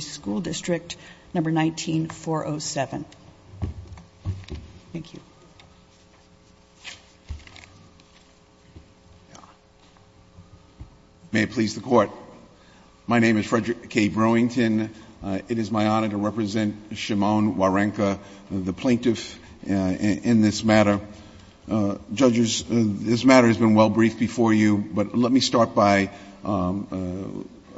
School District, No. 19-407. Thank you. May it please the Court. My name is Frederick K. Browington. It is my honor to represent Shimon Warenka, the plaintiff, in this matter. Judges, this matter has been well briefed before you, but let me start by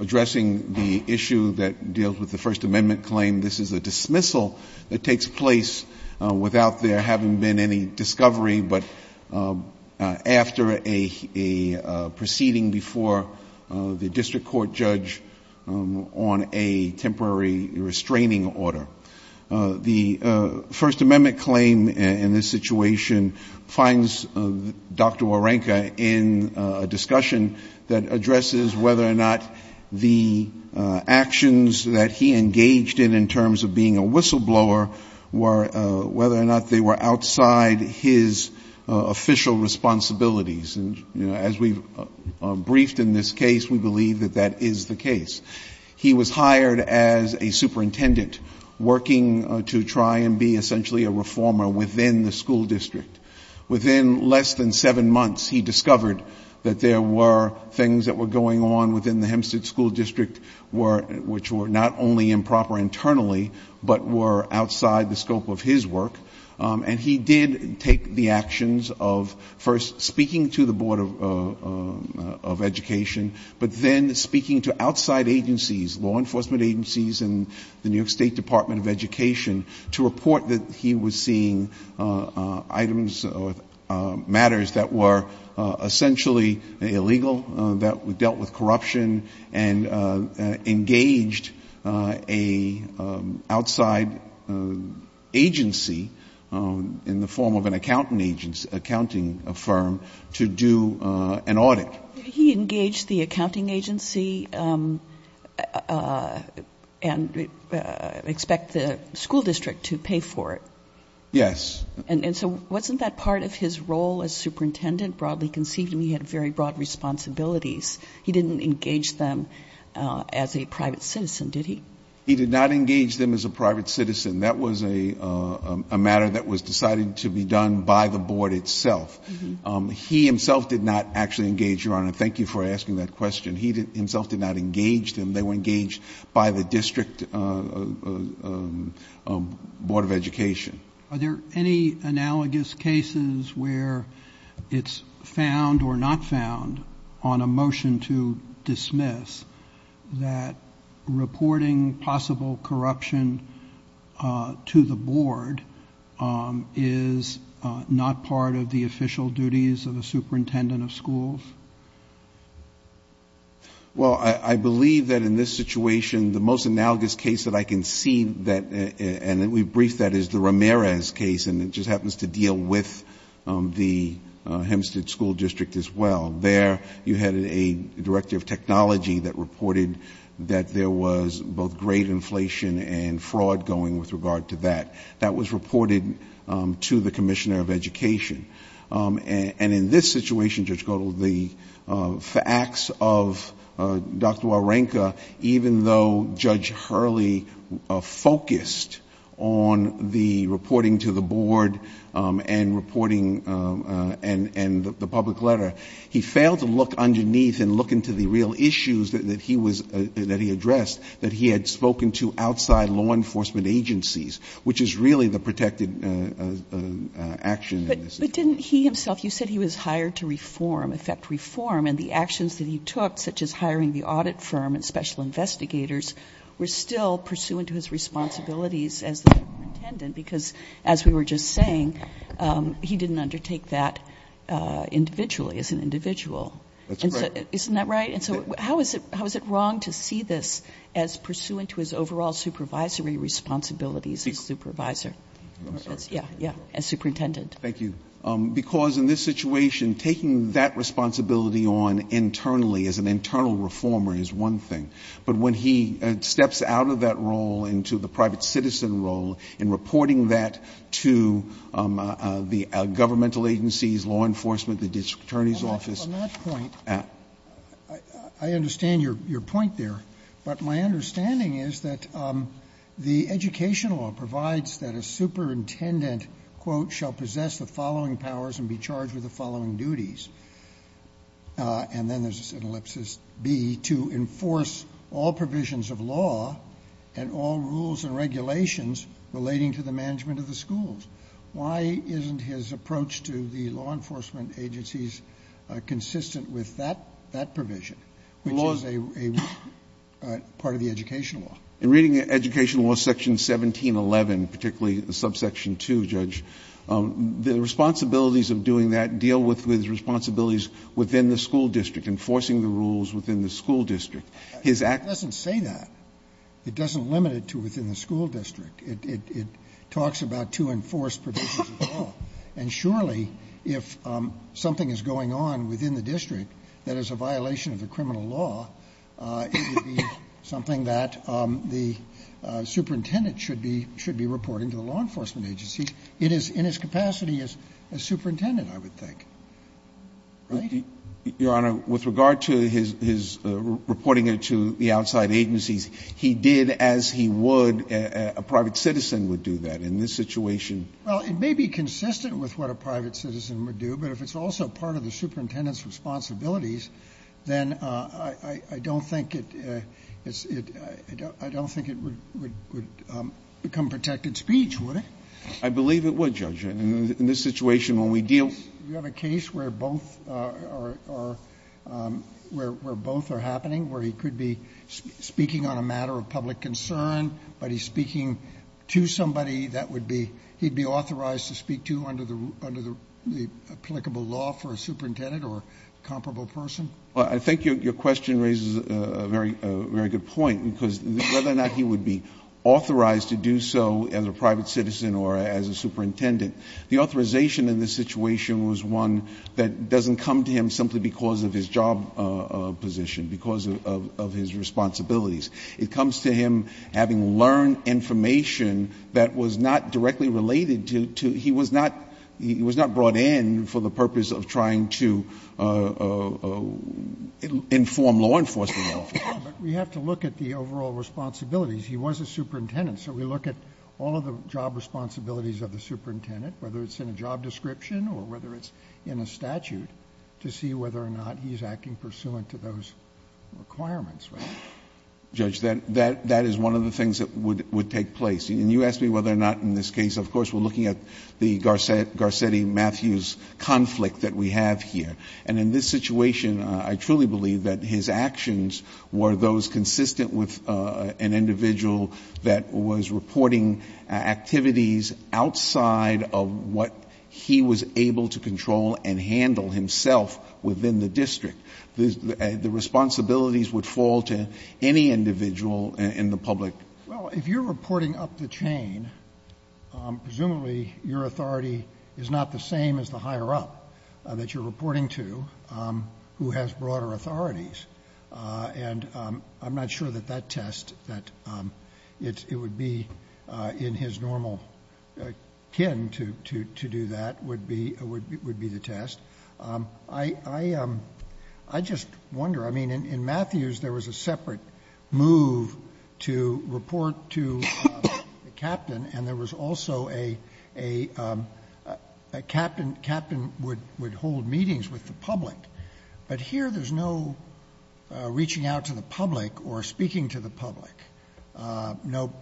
addressing the issue that deals with the First Amendment claim. This is a dismissal that takes place without there having been any discovery, but after a proceeding before the district court judge on a temporary restraining order. The First Amendment claim in this situation finds Dr. Warenka in a discussion that addresses whether or not the actions that he engaged in, in terms of being a whistleblower, whether or not they were outside his official responsibilities. And, you know, as we've briefed in this case, we believe that that is the case. He was hired as a superintendent, working to try and be essentially a reformer within the school district. Within less than seven months, he discovered that there were things that were going on within the Hempstead School District, which were not only improper internally, but were outside the scope of his work. And he did take the actions of first speaking to the Board of Education, but then speaking to outside agencies, law enforcement agencies and the New York State Department of Education, to report that he was seeing items or matters that were essentially illegal, that dealt with corruption, and engaged an outside agency in the form of an accounting agency, accounting firm, to do an audit. He engaged the accounting agency and expect the school district to pay for it? Yes. And so wasn't that part of his role as superintendent? Broadly conceived, he had very broad responsibilities. He didn't engage them as a private citizen, did he? He did not engage them as a private citizen. That was a matter that was decided to be done by the Board itself. He himself did not actually engage, Your Honor. Thank you for asking that question. He himself did not engage them. They were engaged by the district Board of Education. Are there any analogous cases where it's found or not found, on a motion to dismiss, that reporting possible corruption to the Board is not part of the official duties of a superintendent of schools? Well, I believe that in this situation, the most analogous case that I can see, and we briefed that, is the Ramirez case, and it just happens to deal with the Hempstead School District as well. There, you had a director of technology that reported that there was both great inflation and fraud going with regard to that. That was reported to the commissioner of education. And in this situation, Judge Godel, the facts of Dr. Wawrinka, even though Judge Hurley focused on the reporting to the Board and the public letter, he failed to look underneath and look into the real issues that he addressed that he had spoken to outside law enforcement agencies, which is really the protected action in this case. But didn't he himself, you said he was hired to reform, affect reform, and the actions that he took, such as hiring the audit firm and special investigators, were still pursuant to his responsibilities as the superintendent, because as we were just saying, he didn't undertake that individually, as an individual. That's right. Isn't that right? And so how is it wrong to see this as pursuant to his overall supervisory responsibilities as supervisor? I'm sorry. Yeah, yeah, as superintendent. Thank you. Because in this situation, taking that responsibility on internally as an internal reformer is one thing. But when he steps out of that role into the private citizen role and reporting that to the governmental agencies, law enforcement, the district attorney's office. On that point, I understand your point there. But my understanding is that the education law provides that a superintendent, quote, shall possess the following powers and be charged with the following duties. And then there's an ellipsis B, to enforce all provisions of law and all rules and regulations relating to the management of the schools. Why isn't his approach to the law enforcement agencies consistent with that provision? Which is a part of the education law. In reading education law section 1711, particularly subsection 2, Judge, the responsibilities of doing that deal with responsibilities within the school district, enforcing the rules within the school district. His act doesn't say that. It doesn't limit it to within the school district. It talks about to enforce provisions of law. And surely if something is going on within the district that is a violation of the criminal law, it would be something that the superintendent should be reporting to the law enforcement agencies. It is in its capacity as superintendent, I would think. Right? Your Honor, with regard to his reporting it to the outside agencies, he did as he would. A private citizen would do that in this situation. Well, it may be consistent with what a private citizen would do, but if it's also part of the superintendent's responsibilities, then I don't think it would become protected speech, would it? I believe it would, Judge. In this situation when we deal with the case where both are happening, where he could be speaking on a matter of public concern, but he's speaking to somebody that would be, he'd be authorized to speak to under the applicable law for a superintendent or comparable person? Well, I think your question raises a very good point, because whether or not he would be authorized to do so as a private citizen or as a superintendent, the authorization in this situation was one that doesn't come to him simply because of his job position, because of his responsibilities. It comes to him having learned information that was not directly related to, he was not brought in for the purpose of trying to inform law enforcement officers. But we have to look at the overall responsibilities. He was a superintendent, so we look at all of the job responsibilities of the superintendent, whether it's in a job description or whether it's in a statute, to see whether or not he's acting pursuant to those requirements, right? Judge, that is one of the things that would take place. And you asked me whether or not in this case, of course, we're looking at the Garcetti-Matthews conflict that we have here. And in this situation, I truly believe that his actions were those consistent with an individual that was reporting activities outside of what he was able to control and handle himself within the district. The responsibilities would fall to any individual in the public. Well, if you're reporting up the chain, presumably your authority is not the same as the higher-up that you're reporting to who has broader authorities. And I'm not sure that that test, that it would be in his normal kin to do that, would be the test. I just wonder, I mean, in Matthews, there was a separate move to report to the captain, and there was also a captain would hold meetings with the public. But here there's no reaching out to the public or speaking to the public, no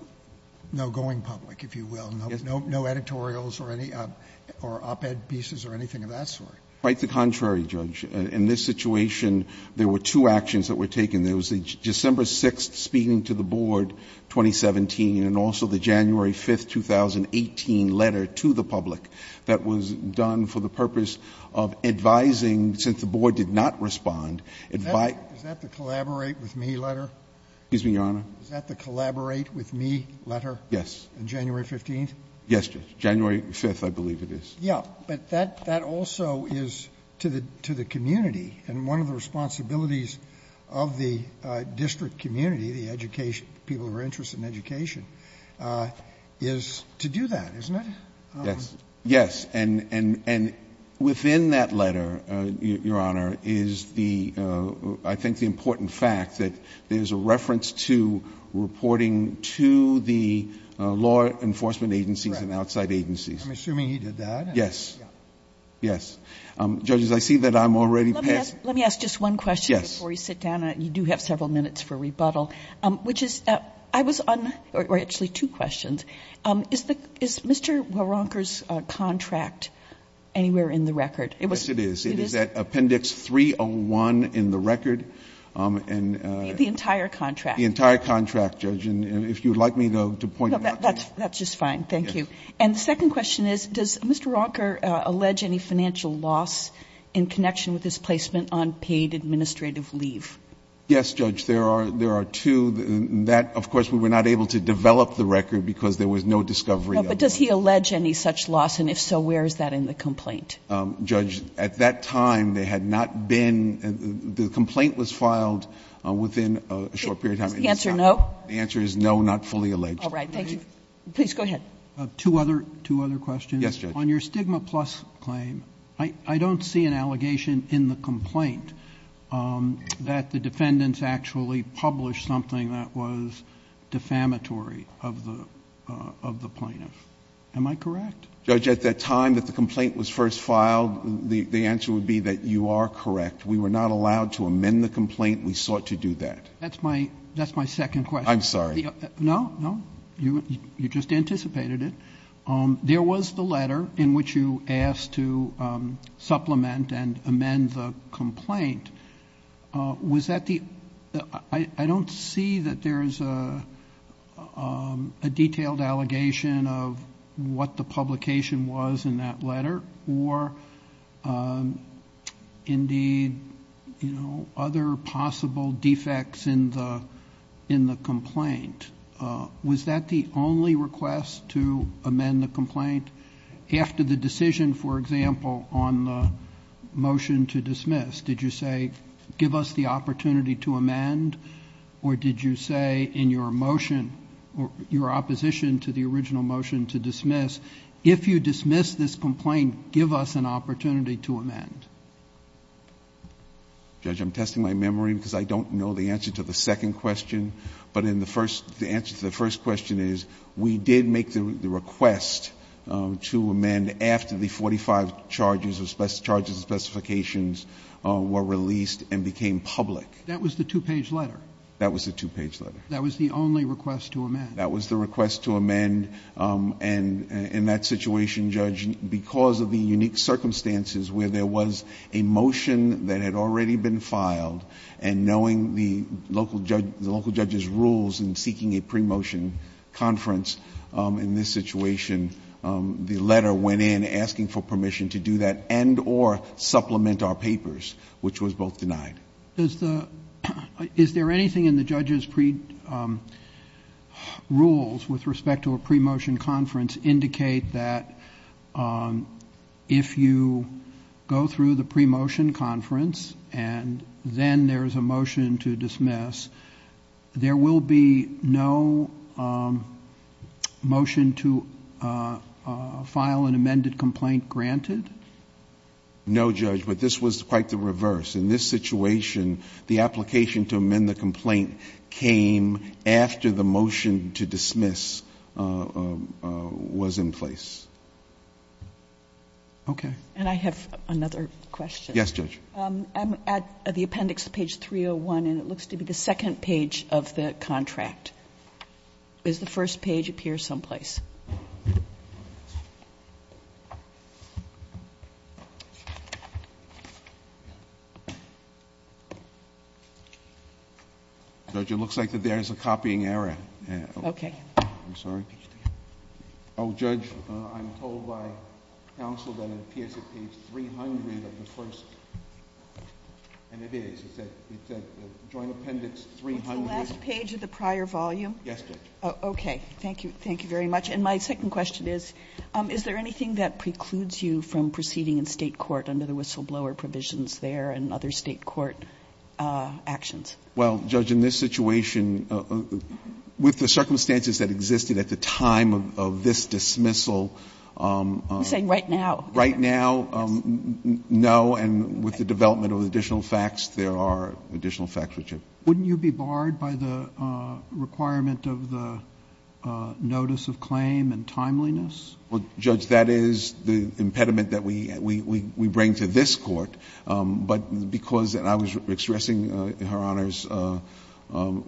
going public, if you will, no editorials or op-ed pieces or anything of that sort. Quite the contrary, Judge. In this situation, there were two actions that were taken. There was the December 6th speaking to the board, 2017, and also the January 5th, 2018 letter to the public that was done for the purpose of advising, since the board did not respond, advising. Is that the collaborate with me letter? Excuse me, Your Honor. Is that the collaborate with me letter? Yes. On January 15th? Yes, Judge. January 5th, I believe it is. Yeah. But that also is to the community. And one of the responsibilities of the district community, the education, people who are interested in education, is to do that, isn't it? Yes. Yes. And within that letter, Your Honor, is the, I think, the important fact that there is a reference to reporting to the law enforcement agencies and outside agencies. I'm assuming he did that. Yes. Yes. Judges, I see that I'm already past it. Let me ask just one question before we sit down. Yes. You do have several minutes for rebuttal, which is I was on, or actually two questions. Is Mr. Waronker's contract anywhere in the record? Yes, it is. It is? It is at Appendix 301 in the record. The entire contract? The entire contract, Judge. And if you would like me to point it out to you. That's just fine. Thank you. And the second question is, does Mr. Waronker allege any financial loss in connection with his placement on paid administrative leave? Yes, Judge. There are two. That, of course, we were not able to develop the record because there was no discovery of that. But does he allege any such loss? And if so, where is that in the complaint? Judge, at that time, there had not been, the complaint was filed within a short period of time. Is the answer no? The answer is no, not fully alleged. All right. Thank you. Please go ahead. Two other questions. Yes, Judge. On your stigma plus claim, I don't see an allegation in the complaint that the defendants actually published something that was defamatory of the plaintiff. Am I correct? Judge, at that time that the complaint was first filed, the answer would be that you are correct. We were not allowed to amend the complaint. We sought to do that. That's my second question. I'm sorry. No, no. You just anticipated it. There was the letter in which you asked to supplement and amend the complaint. Was that the, I don't see that there is a detailed allegation of what the publication was in that letter or, indeed, other possible defects in the complaint? Was that the only request to amend the complaint? After the decision, for example, on the motion to dismiss, did you say, give us the opportunity to amend? Or did you say in your motion, your opposition to the original motion to dismiss, if you dismiss this complaint, give us an opportunity to amend? Judge, I'm testing my memory because I don't know the answer to the second question. But in the first, the answer to the first question is we did make the request to amend after the 45 charges, charges and specifications were released and became public. That was the two-page letter? That was the two-page letter. That was the only request to amend? That was the request to amend. And in that situation, Judge, because of the unique circumstances where there was a motion that had already been filed, and knowing the local judge's rules in seeking a pre-motion conference in this situation, the letter went in asking for permission to do that and or supplement our papers, which was both denied. Is there anything in the judge's rules with respect to a pre-motion conference indicate that if you go through the pre-motion conference and then there is a motion to dismiss, there will be no motion to file an amended complaint granted? No, Judge. But this was quite the reverse. In this situation, the application to amend the complaint came after the motion to dismiss was in place. Okay. And I have another question. Yes, Judge. I'm at the appendix to page 301, and it looks to be the second page of the contract. Does the first page appear someplace? Judge, it looks like that there is a copying error. Okay. I'm sorry. Oh, Judge, I'm told by counsel that it appears at page 300 of the first. And it is. It's at joint appendix 300. What's the last page of the prior volume? Yes, Judge. Okay. Thank you. Thank you very much. And my second question is, is there anything that precludes you from proceeding in State court under the whistleblower provisions there and other State court actions? Well, Judge, in this situation, with the circumstances that existed at the time of this dismissal ---- I'm saying right now. Right now, no. And with the development of additional facts, there are additional facts which have ---- Wouldn't you be barred by the requirement of the notice of claim and timeliness? Well, Judge, that is the impediment that we bring to this Court. But because I was expressing Her Honor's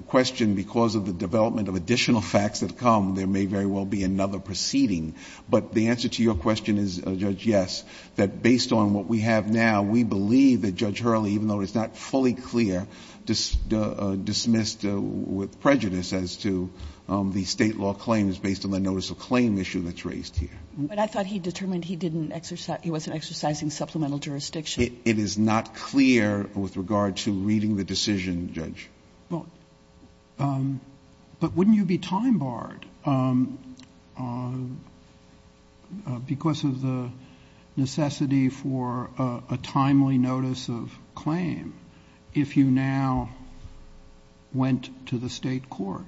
question, because of the development of additional facts that come, there may very well be another proceeding. But the answer to your question is, Judge, yes, that based on what we have now, we believe that Judge Hurley, even though it's not fully clear, dismissed with prejudice as to the State law claim is based on the notice of claim issue that's raised here. But I thought he determined he didn't exercise ---- he wasn't exercising supplemental jurisdiction. It is not clear with regard to reading the decision, Judge. Well, but wouldn't you be time barred because of the necessity for a timely notice of claim if you now went to the State court?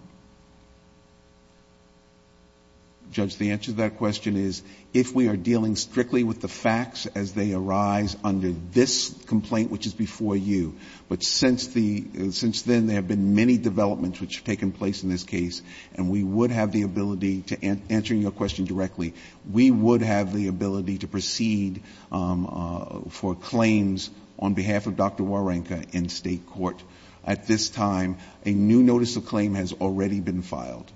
Judge, the answer to that question is, if we are dealing strictly with the facts as they arise under this complaint, which is before you, but since the ---- since then, there have been many developments which have taken place in this case, and we would have the ability to ---- answering your question directly, we would have the ability to proceed for claims on behalf of Dr. Wawrinka in State court. At this time, a new notice of claim has already been filed.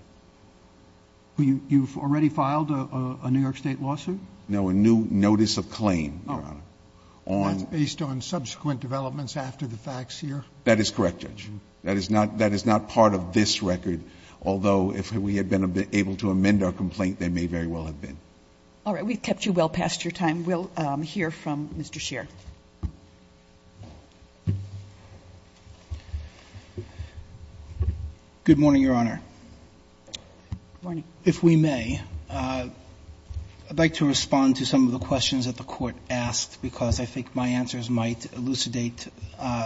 You've already filed a New York State lawsuit? No, a new notice of claim, Your Honor. That's based on subsequent developments after the facts here? That is correct, Judge. That is not part of this record, although if we had been able to amend our complaint, there may very well have been. All right. We've kept you well past your time. We'll hear from Mr. Scheer. Good morning, Your Honor. Good morning. If we may, I'd like to respond to some of the questions that the Court asked, because I think my answers might elucidate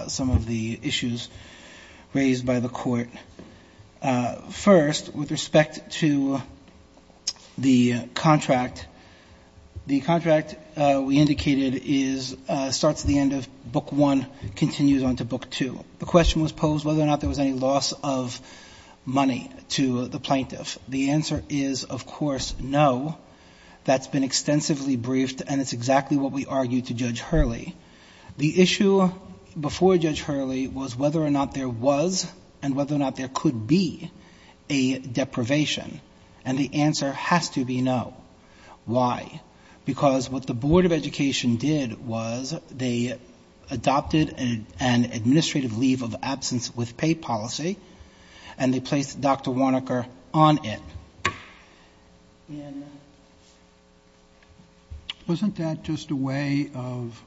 some of the issues raised by the Court. First, with respect to the contract, the contract we indicated is ---- starts at the end of Book I, continues on to Book II. The question was posed whether or not there was any loss of money to the plaintiff. The answer is, of course, no. That's been extensively briefed, and it's exactly what we argued to Judge Hurley. The issue before Judge Hurley was whether or not there was and whether or not there could be a deprivation, and the answer has to be no. Why? Because what the Board of Education did was they adopted an administrative leave of absence with pay policy, and they placed Dr. Warnocker on it. And wasn't that just a way of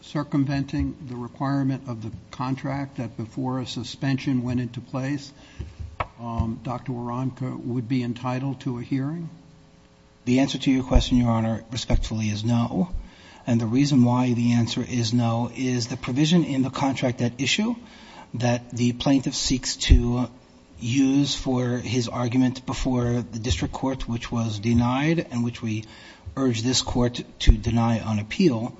circumventing the requirement of the contract that before a suspension went into place, Dr. Warnocker would be entitled to a hearing? The answer to your question, Your Honor, respectfully, is no, and the reason why the answer is no is the provision in the contract at issue that the plaintiff seeks to use for his argument before the district court, which was denied and which we urge this court to deny on appeal,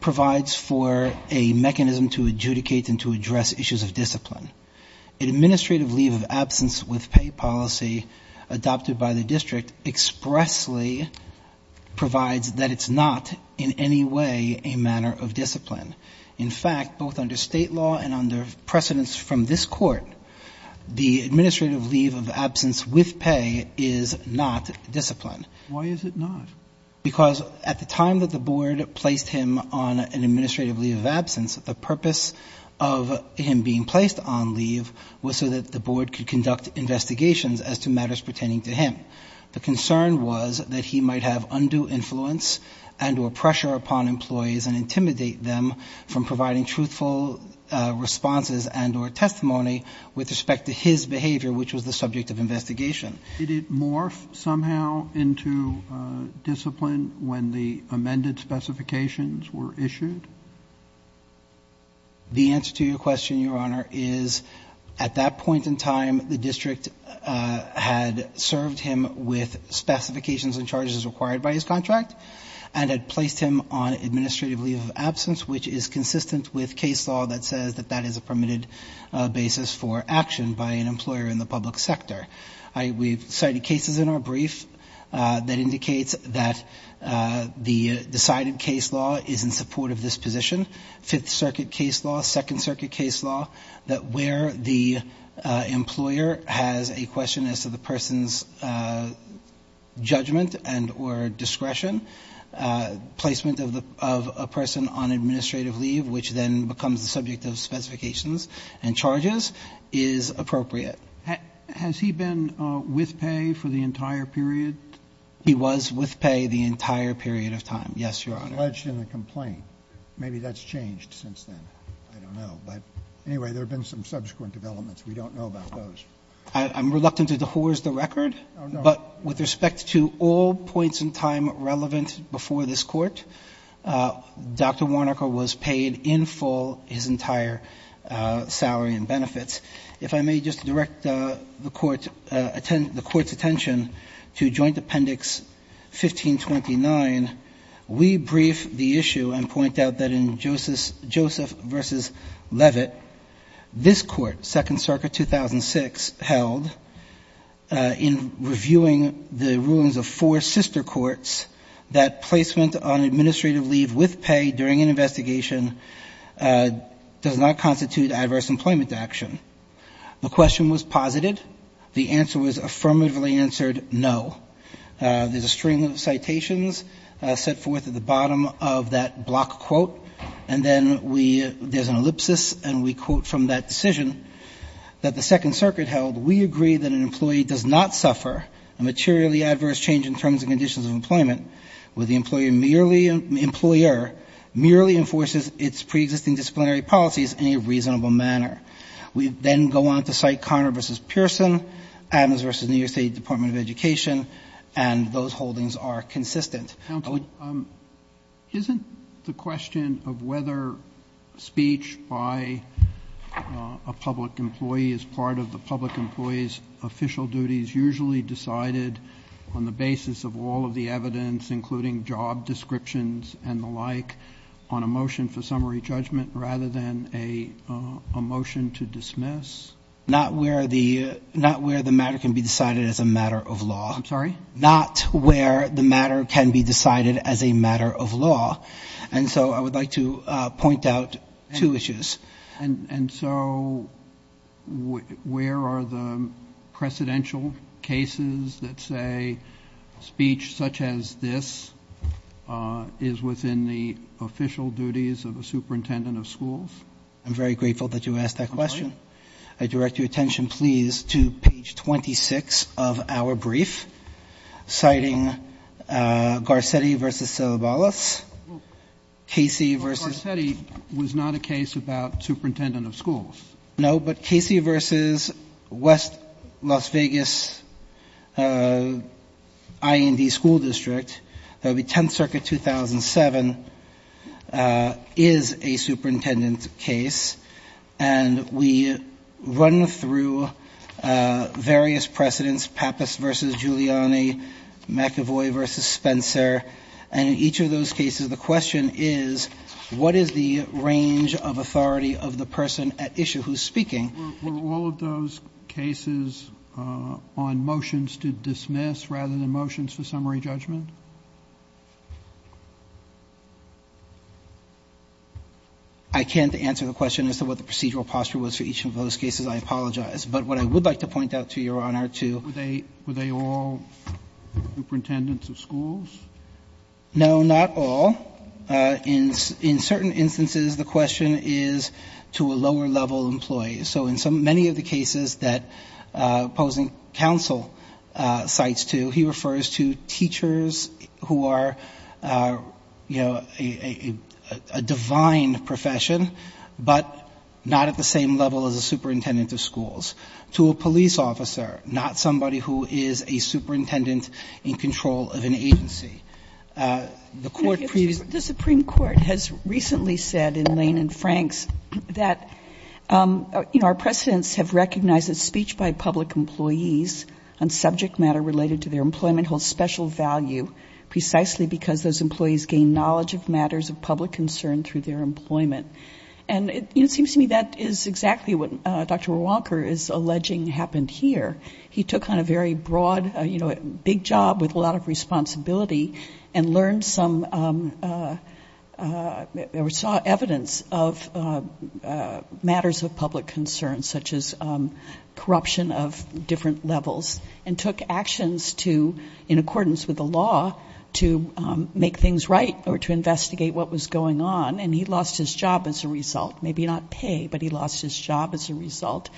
provides for a mechanism to adjudicate and to address issues of discipline. An administrative leave of absence with pay policy adopted by the district expressly provides that it's not in any way a manner of discipline. In fact, both under State law and under precedence from this Court, the administrative leave of absence with pay is not discipline. Why is it not? Because at the time that the Board placed him on an administrative leave of absence, the purpose of him being placed on leave was so that the Board could conduct investigations as to matters pertaining to him. The concern was that he might have undue influence and or pressure upon employees and intimidate them from providing truthful responses and or testimony with respect to his behavior, which was the subject of investigation. Did it morph somehow into discipline when the amended specifications were issued? The answer to your question, Your Honor, is at that point in time the district had served him with an administrative leave of absence, which is consistent with case law that says that that is a permitted basis for action by an employer in the public sector. We've cited cases in our brief that indicates that the decided case law is in support of this position. Fifth Circuit case law, Second Circuit case law, that where the employer has a question as to the person's judgment and or discretion, placement of a person on administrative leave, which then becomes the subject of specifications and charges, is appropriate. Has he been with pay for the entire period? He was with pay the entire period of time, yes, Your Honor. Alleged in the complaint. Maybe that's changed since then. I don't know. But anyway, there have been some subsequent developments. We don't know about those. I'm reluctant to dehorse the record. Oh, no. But with respect to all points in time relevant before this Court, Dr. Warnocker was paid in full his entire salary and benefits. If I may just direct the Court's attention to Joint Appendix 1529, we brief the issue and point out that in Joseph v. Levitt, this Court, Second Circuit 2006, held in reviewing the rulings of four sister courts that placement on administrative leave with pay during an investigation does not constitute adverse employment action. The question was posited. The answer was affirmatively answered no. There's a string of citations set forth at the bottom of that block quote. And then there's an ellipsis, and we quote from that decision that the Second Circuit held, we agree that an employee does not suffer a materially adverse change in terms and conditions of employment where the employer merely enforces its preexisting disciplinary policies in a reasonable manner. We then go on to cite Conner v. Pearson, Adams v. New York State Department of Education, and those holdings are consistent. Roberts. Kennedy. Isn't the question of whether speech by a public employee is part of the public employee's official duties usually decided on the basis of all of the evidence, including job descriptions and the like, on a motion for summary judgment rather than a motion to dismiss? Not where the matter can be decided as a matter of law. I'm sorry? Not where the matter can be decided as a matter of law. And so I would like to point out two issues. And so where are the precedential cases that say speech such as this, is within the official duties of a superintendent of schools? I'm very grateful that you asked that question. Okay. I direct your attention, please, to page 26 of our brief, citing Garcetti v. Celebalus, Casey v. Well, Garcetti was not a case about superintendent of schools. No, but Casey v. West Las Vegas IND School District, that would be 10th Circuit, 2007, is a superintendent case. And we run through various precedents, Pappas v. Giuliani, McEvoy v. Spencer, and in each of those cases, the question is, what is the range of authority of the person at issue who's speaking? Were all of those cases on motions to dismiss rather than motions for summary judgment? I can't answer the question as to what the procedural posture was for each of those cases. I apologize. But what I would like to point out to Your Honor, to Were they all superintendents of schools? No, not all. In certain instances, the question is to a lower-level employee. So in many of the cases that opposing counsel cites to, he refers to teachers who are, you know, a divine profession, but not at the same level as a superintendent of schools. To a police officer, not somebody who is a superintendent in control of an agency. The Court previously The Supreme Court has recently said in Lane and Franks that, you know, our precedents have recognized that speech by public employees on subject matter related to their employment holds special value, precisely because those employees gain knowledge of matters of public concern through their employment. And it seems to me that is exactly what Dr. Walker is alleging happened here. He took on a very broad, you know, big job with a lot of responsibility and learned some or saw evidence of matters of public concern, such as corruption of different levels, and took actions to, in accordance with the law, to make things right or to investigate what was going on. And he lost his job as a result. Maybe not pay, but he lost his job as a result.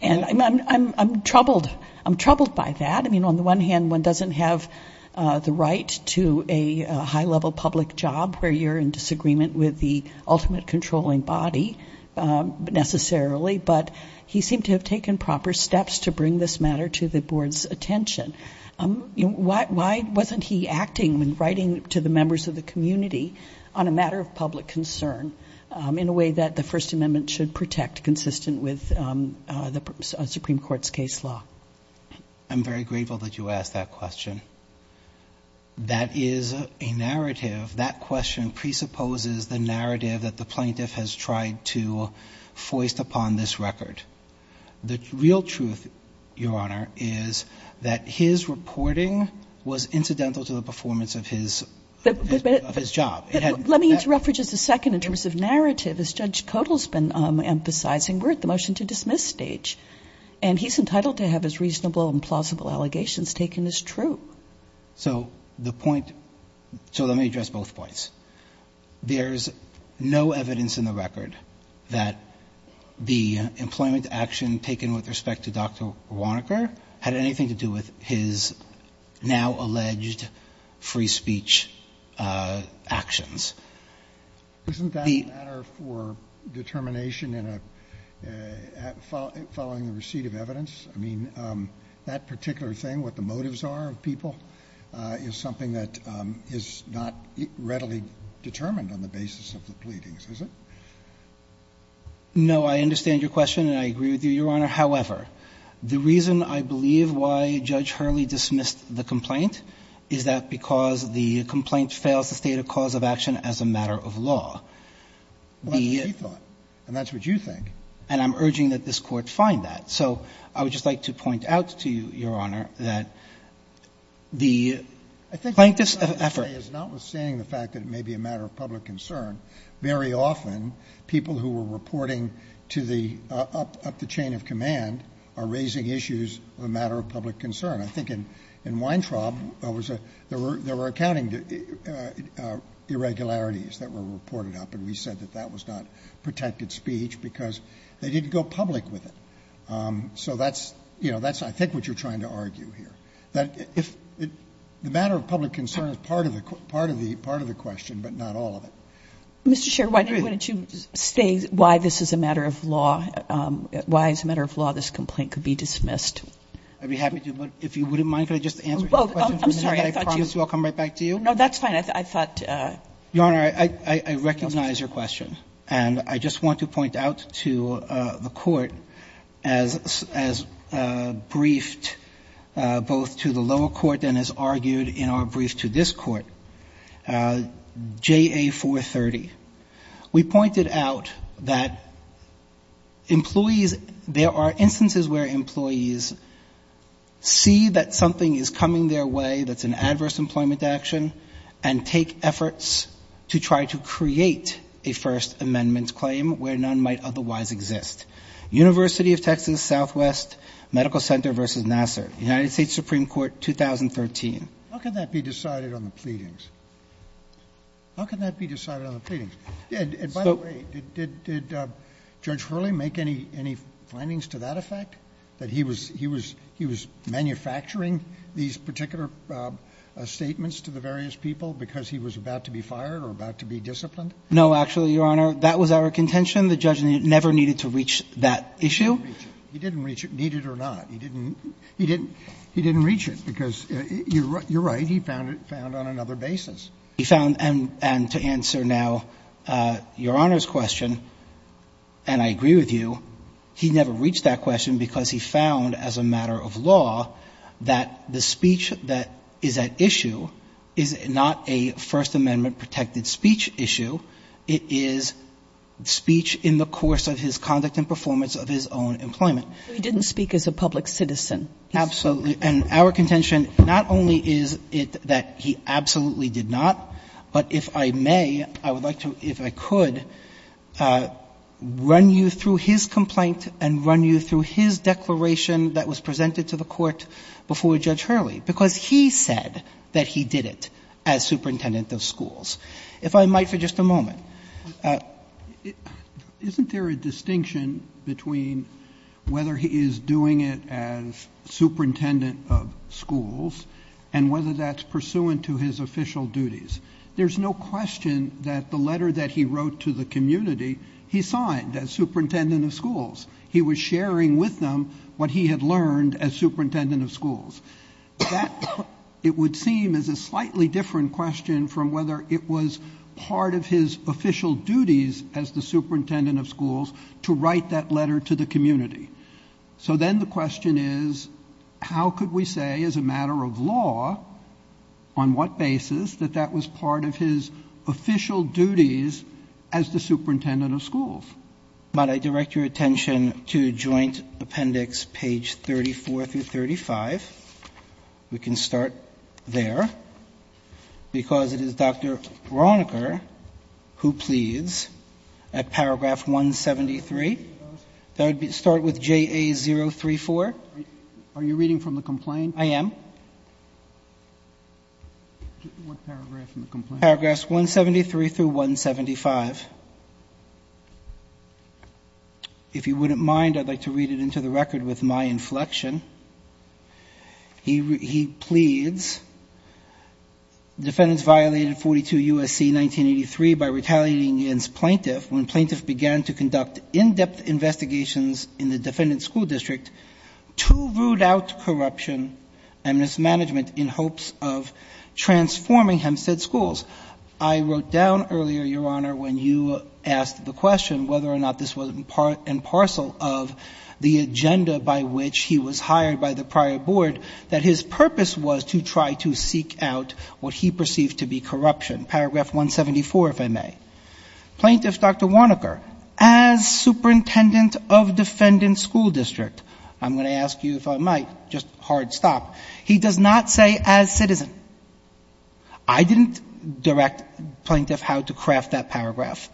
And I'm troubled. I'm troubled by that. I mean, on the one hand, one doesn't have the right to a high-level public job where you're in disagreement with the ultimate controlling body, necessarily. But he seemed to have taken proper steps to bring this matter to the Board's attention. Why wasn't he acting when writing to the members of the community on a matter of public concern in a way that the First Amendment should protect, consistent with the Supreme Court's case law? I'm very grateful that you asked that question. That is a narrative. That question presupposes the narrative that the plaintiff has tried to foist upon this record. The real truth, Your Honor, is that his reporting was incidental to the performance of his job. But let me interrupt for just a second in terms of narrative. As Judge Codall's been emphasizing, we're at the motion-to-dismiss stage, and he's entitled to have his reasonable and plausible allegations taken as true. So the point — so let me address both points. There's no evidence in the record that the employment action taken with respect to Dr. Warnocker had anything to do with his now-alleged free speech actions. Isn't that a matter for determination in a — following the receipt of evidence? I mean, that particular thing, what the motives are of people, is something that is not readily determined on the basis of the pleadings, is it? No, I understand your question, and I agree with you, Your Honor. However, the reason I believe why Judge Hurley dismissed the complaint is that because the complaint fails to state a cause of action as a matter of law. Well, that's what he thought, and that's what you think. And I'm urging that this Court find that. So I would just like to point out to you, Your Honor, that the plaintiff's effort — I think what I'm trying to say is notwithstanding the fact that it may be a matter of public concern, very often people who are reporting to the — up the chain of command are raising issues of a matter of public concern. I think in Weintraub, there was a — there were accounting irregularities that were reported up, and we said that that was not protected speech because they didn't go public with it. So that's — you know, that's, I think, what you're trying to argue here. That if — the matter of public concern is part of the — part of the question, but not all of it. Mr. Scherr, why don't you state why this is a matter of law — why, as a matter of law, this complaint could be dismissed? I'd be happy to, but if you wouldn't mind, could I just answer your question? Well, I'm sorry. I thought you — I promise I'll come right back to you. No, that's fine. I thought — Your Honor, I recognize your question, and I just want to point out to the Court, as — as briefed both to the lower court and as argued in our brief to this court, JA-430, we pointed out that employees — there are instances where employees see that something is coming their way that's an adverse employment action and take efforts to try to create a First Amendment claim where none might otherwise exist. University of Texas Southwest Medical Center v. Nassar, United States Supreme Court, 2013. How can that be decided on the pleadings? How can that be decided on the pleadings? And by the way, did Judge Hurley make any findings to that effect, that he was — he was manufacturing these particular statements to the various people because he was about to be fired or about to be disciplined? No, actually, Your Honor, that was our contention. The judge never needed to reach that issue. He didn't reach it. He didn't reach it, need it or not. He didn't — he didn't — he didn't reach it because — you're right, he found it — found on another basis. He found — and to answer now Your Honor's question, and I agree with you, he never reached that question because he found as a matter of law that the speech that is at issue is not a First Amendment-protected speech issue. It is speech in the course of his conduct and performance of his own employment. So he didn't speak as a public citizen? Absolutely. And our contention not only is it that he absolutely did not, but if I may, I would like to, if I could, run you through his complaint and run you through his declaration that was presented to the Court before Judge Hurley because he said that he did it as superintendent of schools. If I might for just a moment. Isn't there a distinction between whether he is doing it as superintendent of schools and whether that's pursuant to his official duties? There's no question that the letter that he wrote to the community, he signed as superintendent of schools. He was sharing with them what he had learned as superintendent of schools. That, it would seem, is a slightly different question from whether it was part of his official duties as the superintendent of schools to write that letter to the community. So then the question is, how could we say as a matter of law, on what basis, that that was part of his official duties as the superintendent of schools? If I might, I direct your attention to Joint Appendix page 34 through 35. We can start there. Because it is Dr. Veronica who pleads at paragraph 173. Start with JA034. Are you reading from the complaint? I am. What paragraph from the complaint? Paragraphs 173 through 175. If you wouldn't mind, I'd like to read it into the record with my inflection. He pleads, defendants violated 42 U.S.C. 1983 by retaliating against plaintiffs when plaintiffs began to conduct in-depth investigations in the defendant's school district to root out corruption and mismanagement in hopes of transforming Hempstead schools. I wrote down earlier, Your Honor, when you asked the question whether or not this was in line with what was hired by the prior board, that his purpose was to try to seek out what he perceived to be corruption. Paragraph 174, if I may. Plaintiff Dr. Warnocker, as superintendent of defendant's school district, I'm going to ask you if I might, just hard stop, he does not say as citizen. I didn't direct plaintiff how to craft that paragraph.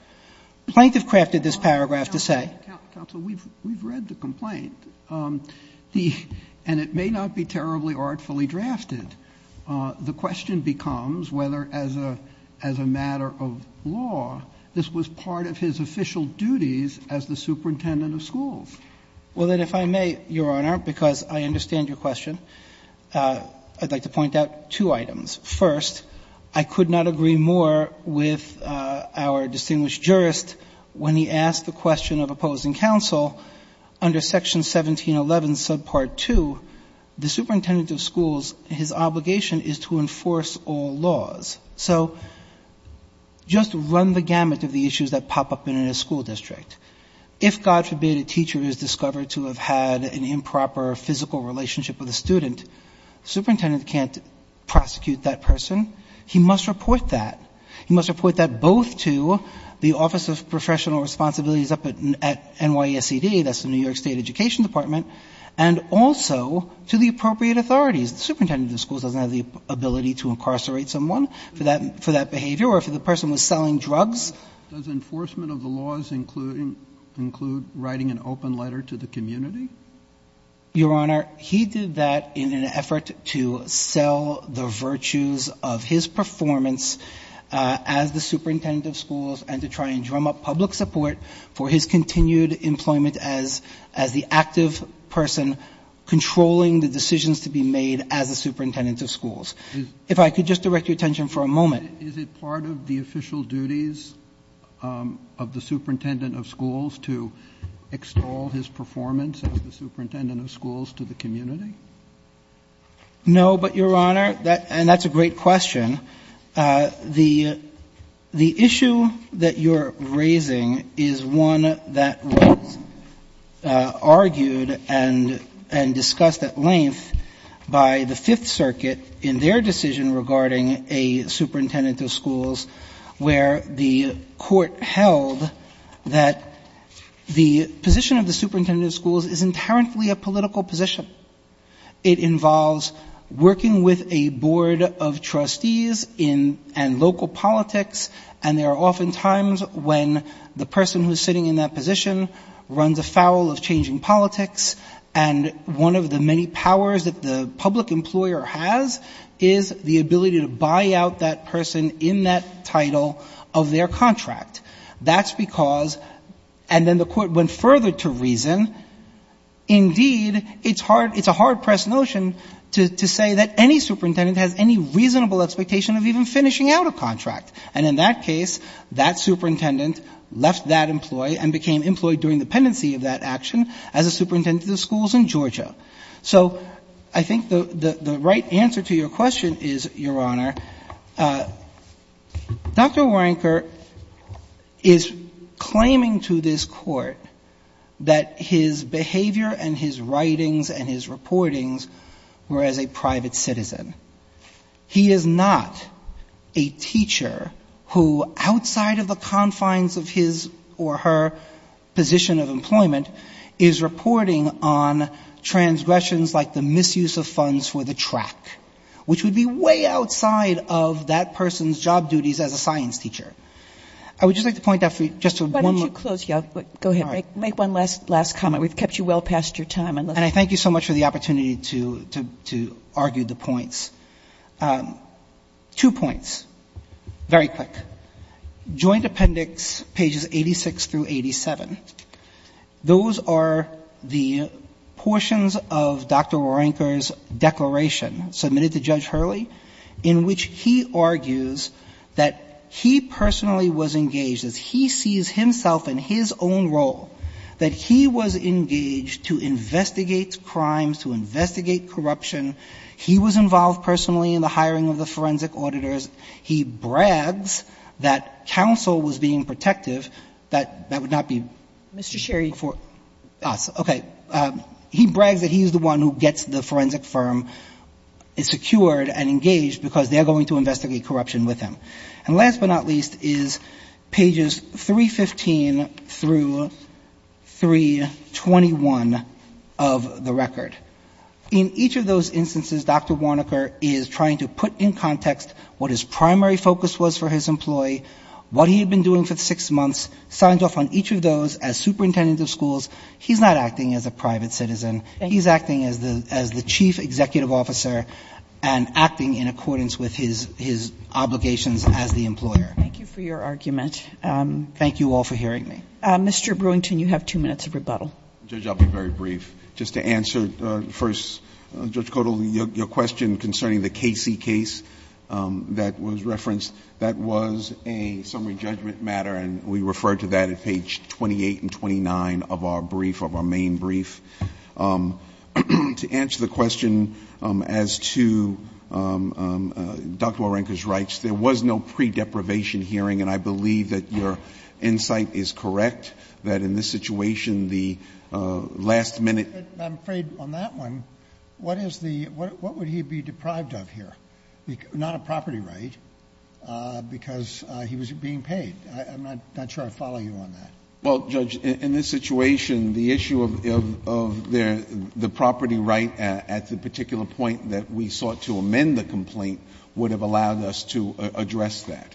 Plaintiff crafted this paragraph to say. Counsel, we've read the complaint. And it may not be terribly artfully drafted. The question becomes whether as a matter of law, this was part of his official duties as the superintendent of schools. Well, then, if I may, Your Honor, because I understand your question, I'd like to point out two items. First, I could not agree more with our distinguished jurist when he asked the question of opposing counsel under section 1711 subpart 2, the superintendent of schools, his obligation is to enforce all laws. So just run the gamut of the issues that pop up in a school district. If, God forbid, a teacher is discovered to have had an improper physical relationship with a student, superintendent can't prosecute that person. He must report that. He must report that both to the Office of Professional Responsibilities up at NYSED, that's the New York State Education Department, and also to the appropriate authorities. The superintendent of the schools doesn't have the ability to incarcerate someone for that behavior or if the person was selling drugs. Does enforcement of the laws include writing an open letter to the community? Your Honor, he did that in an effort to sell the virtues of his performance as the superintendent of schools and to try and drum up public support for his continued employment as the active person controlling the decisions to be made as the superintendent of schools. If I could just direct your attention for a moment. Is it part of the official duties of the superintendent of schools to extol his performance as the superintendent of schools to the community? No, but, Your Honor, and that's a great question. The issue that you're raising is one that was argued and discussed at length by the Fifth Circuit in their decision regarding a superintendent of schools where the court held that the position of the superintendent of schools is inherently a political position. It involves working with a board of trustees in, and local politics, and there are often times when the person who is sitting in that position runs afoul of changing politics, and one of the many powers that the public employer has is the ability to buy out that person in that title of their contract. That's because, and then the court went further to reason, indeed, it's a hard-pressed notion to say that any superintendent has any reasonable expectation of even finishing out a contract. And in that case, that superintendent left that employee and became employed during the pendency of that action as a superintendent of schools in Georgia. So I think the right answer to your question is, Your Honor, Dr. Warrenker, I don't think is claiming to this court that his behavior and his writings and his reportings were as a private citizen. He is not a teacher who, outside of the confines of his or her position of employment, is reporting on transgressions like the misuse of funds for the track, which would be way outside of that person's job duties as a science teacher. I would just like to point out for you, just to one moment. Kagan. Why don't you close? Go ahead. Make one last comment. We've kept you well past your time. And I thank you so much for the opportunity to argue the points. Two points, very quick. Joint Appendix pages 86 through 87, those are the portions of Dr. Warrenker's declaration submitted to Judge Hurley in which he argues that he personally was engaged as he sees himself in his own role, that he was engaged to investigate crimes, to investigate corruption. He was involved personally in the hiring of the forensic auditors. He brags that counsel was being protective, that that would not be Mr. Sherry for us. Okay. He brags that he's the one who gets the forensic firm secured and engaged because they're going to investigate corruption with him. And last but not least is pages 315 through 321 of the record. In each of those instances, Dr. Warrenker is trying to put in context what his primary focus was for his employee, what he had been doing for the six months, signs off on each of those as superintendent of schools. He's not acting as a private citizen. He's acting as the chief executive officer and acting in accordance with his obligations as the employer. Thank you for your argument. Thank you all for hearing me. Mr. Brewington, you have two minutes of rebuttal. Judge, I'll be very brief. Just to answer first, Judge Codall, your question concerning the Casey case that was referenced, that was a summary judgment matter and we referred to that at page 28 and 29 of our brief, of our main brief. To answer the question as to Dr. Warrenker's rights, there was no pre-deprivation hearing, and I believe that your insight is correct, that in this situation the last minute ---- I'm afraid on that one, what is the ---- what would he be deprived of here? Not a property right, because he was being paid. I'm not sure I follow you on that. Well, Judge, in this situation, the issue of the property right at the particular point that we sought to amend the complaint would have allowed us to address that.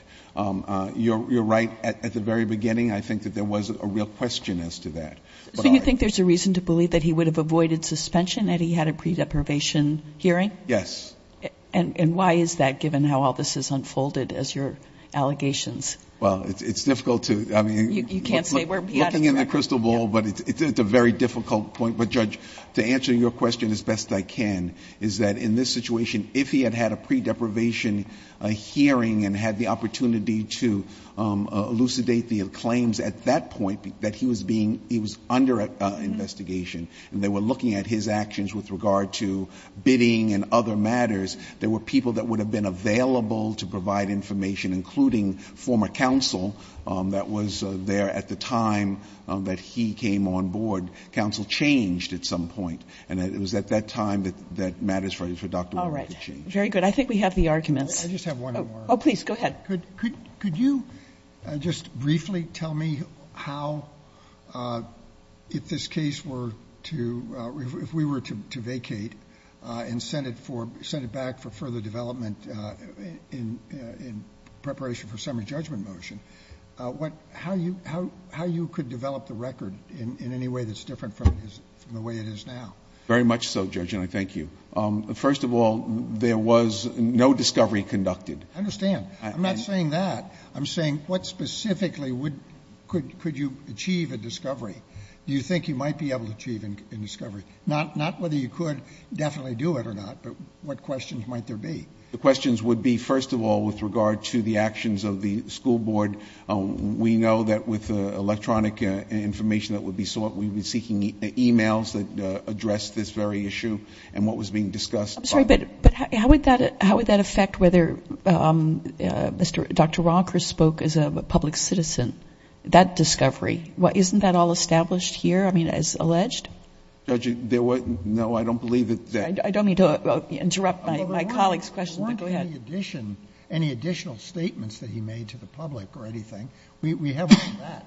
You're right at the very beginning. I think that there was a real question as to that. So you think there's a reason to believe that he would have avoided suspension had he had a pre-deprivation hearing? Yes. And why is that, given how all this has unfolded as your allegations? Well, it's difficult to, I mean ---- You can't say where ---- Looking in the crystal ball, but it's a very difficult point. But, Judge, to answer your question as best I can, is that in this situation, if he had had a pre-deprivation hearing and had the opportunity to elucidate the claims at that point, that he was being ---- he was under investigation, and they were looking at his actions with regard to bidding and other matters, there were people that would have been available to provide information, including former counsel that was there at the time that he came on board. Counsel changed at some point. And it was at that time that matters for Dr. Warren to change. All right. Very good. I think we have the arguments. I just have one more. Oh, please. Go ahead. Could you just briefly tell me how, if this case were to ---- if we were to vacate and send it for ---- send it back for further development in preparation for summary judgment motion, what ---- how you ---- how you could develop the record in any way that's different from the way it is now? Very much so, Judge, and I thank you. First of all, there was no discovery conducted. I understand. I'm not saying that. I'm saying what specifically would ---- could you achieve a discovery? Do you think you might be able to achieve a discovery? Not whether you could definitely do it or not, but what questions might there be? The questions would be, first of all, with regard to the actions of the school board. We know that with the electronic information that would be sought, we would be seeking e-mails that address this very issue and what was being discussed. I'm sorry, but how would that affect whether Dr. Walker spoke as a public citizen? That discovery, isn't that all established here, I mean, as alleged? Judge, there was no, I don't believe that ---- I don't mean to interrupt my colleague's question, but go ahead. Any additional statements that he made to the public or anything, we have on that.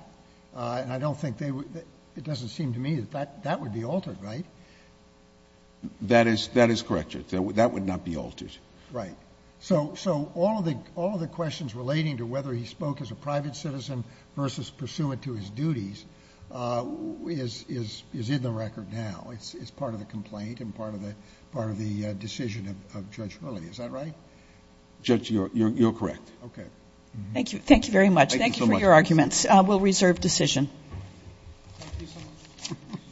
And I don't think they would ---- it doesn't seem to me that that would be altered, right? That is correct, Judge. That would not be altered. Right. So all of the questions relating to whether he spoke as a private citizen versus pursuant to his duties is in the record now. It's part of the complaint and part of the decision of Judge Hurley. Is that right? Judge, you're correct. Okay. Thank you. Thank you very much. Thank you for your arguments. We'll reserve decision. Thank you so much.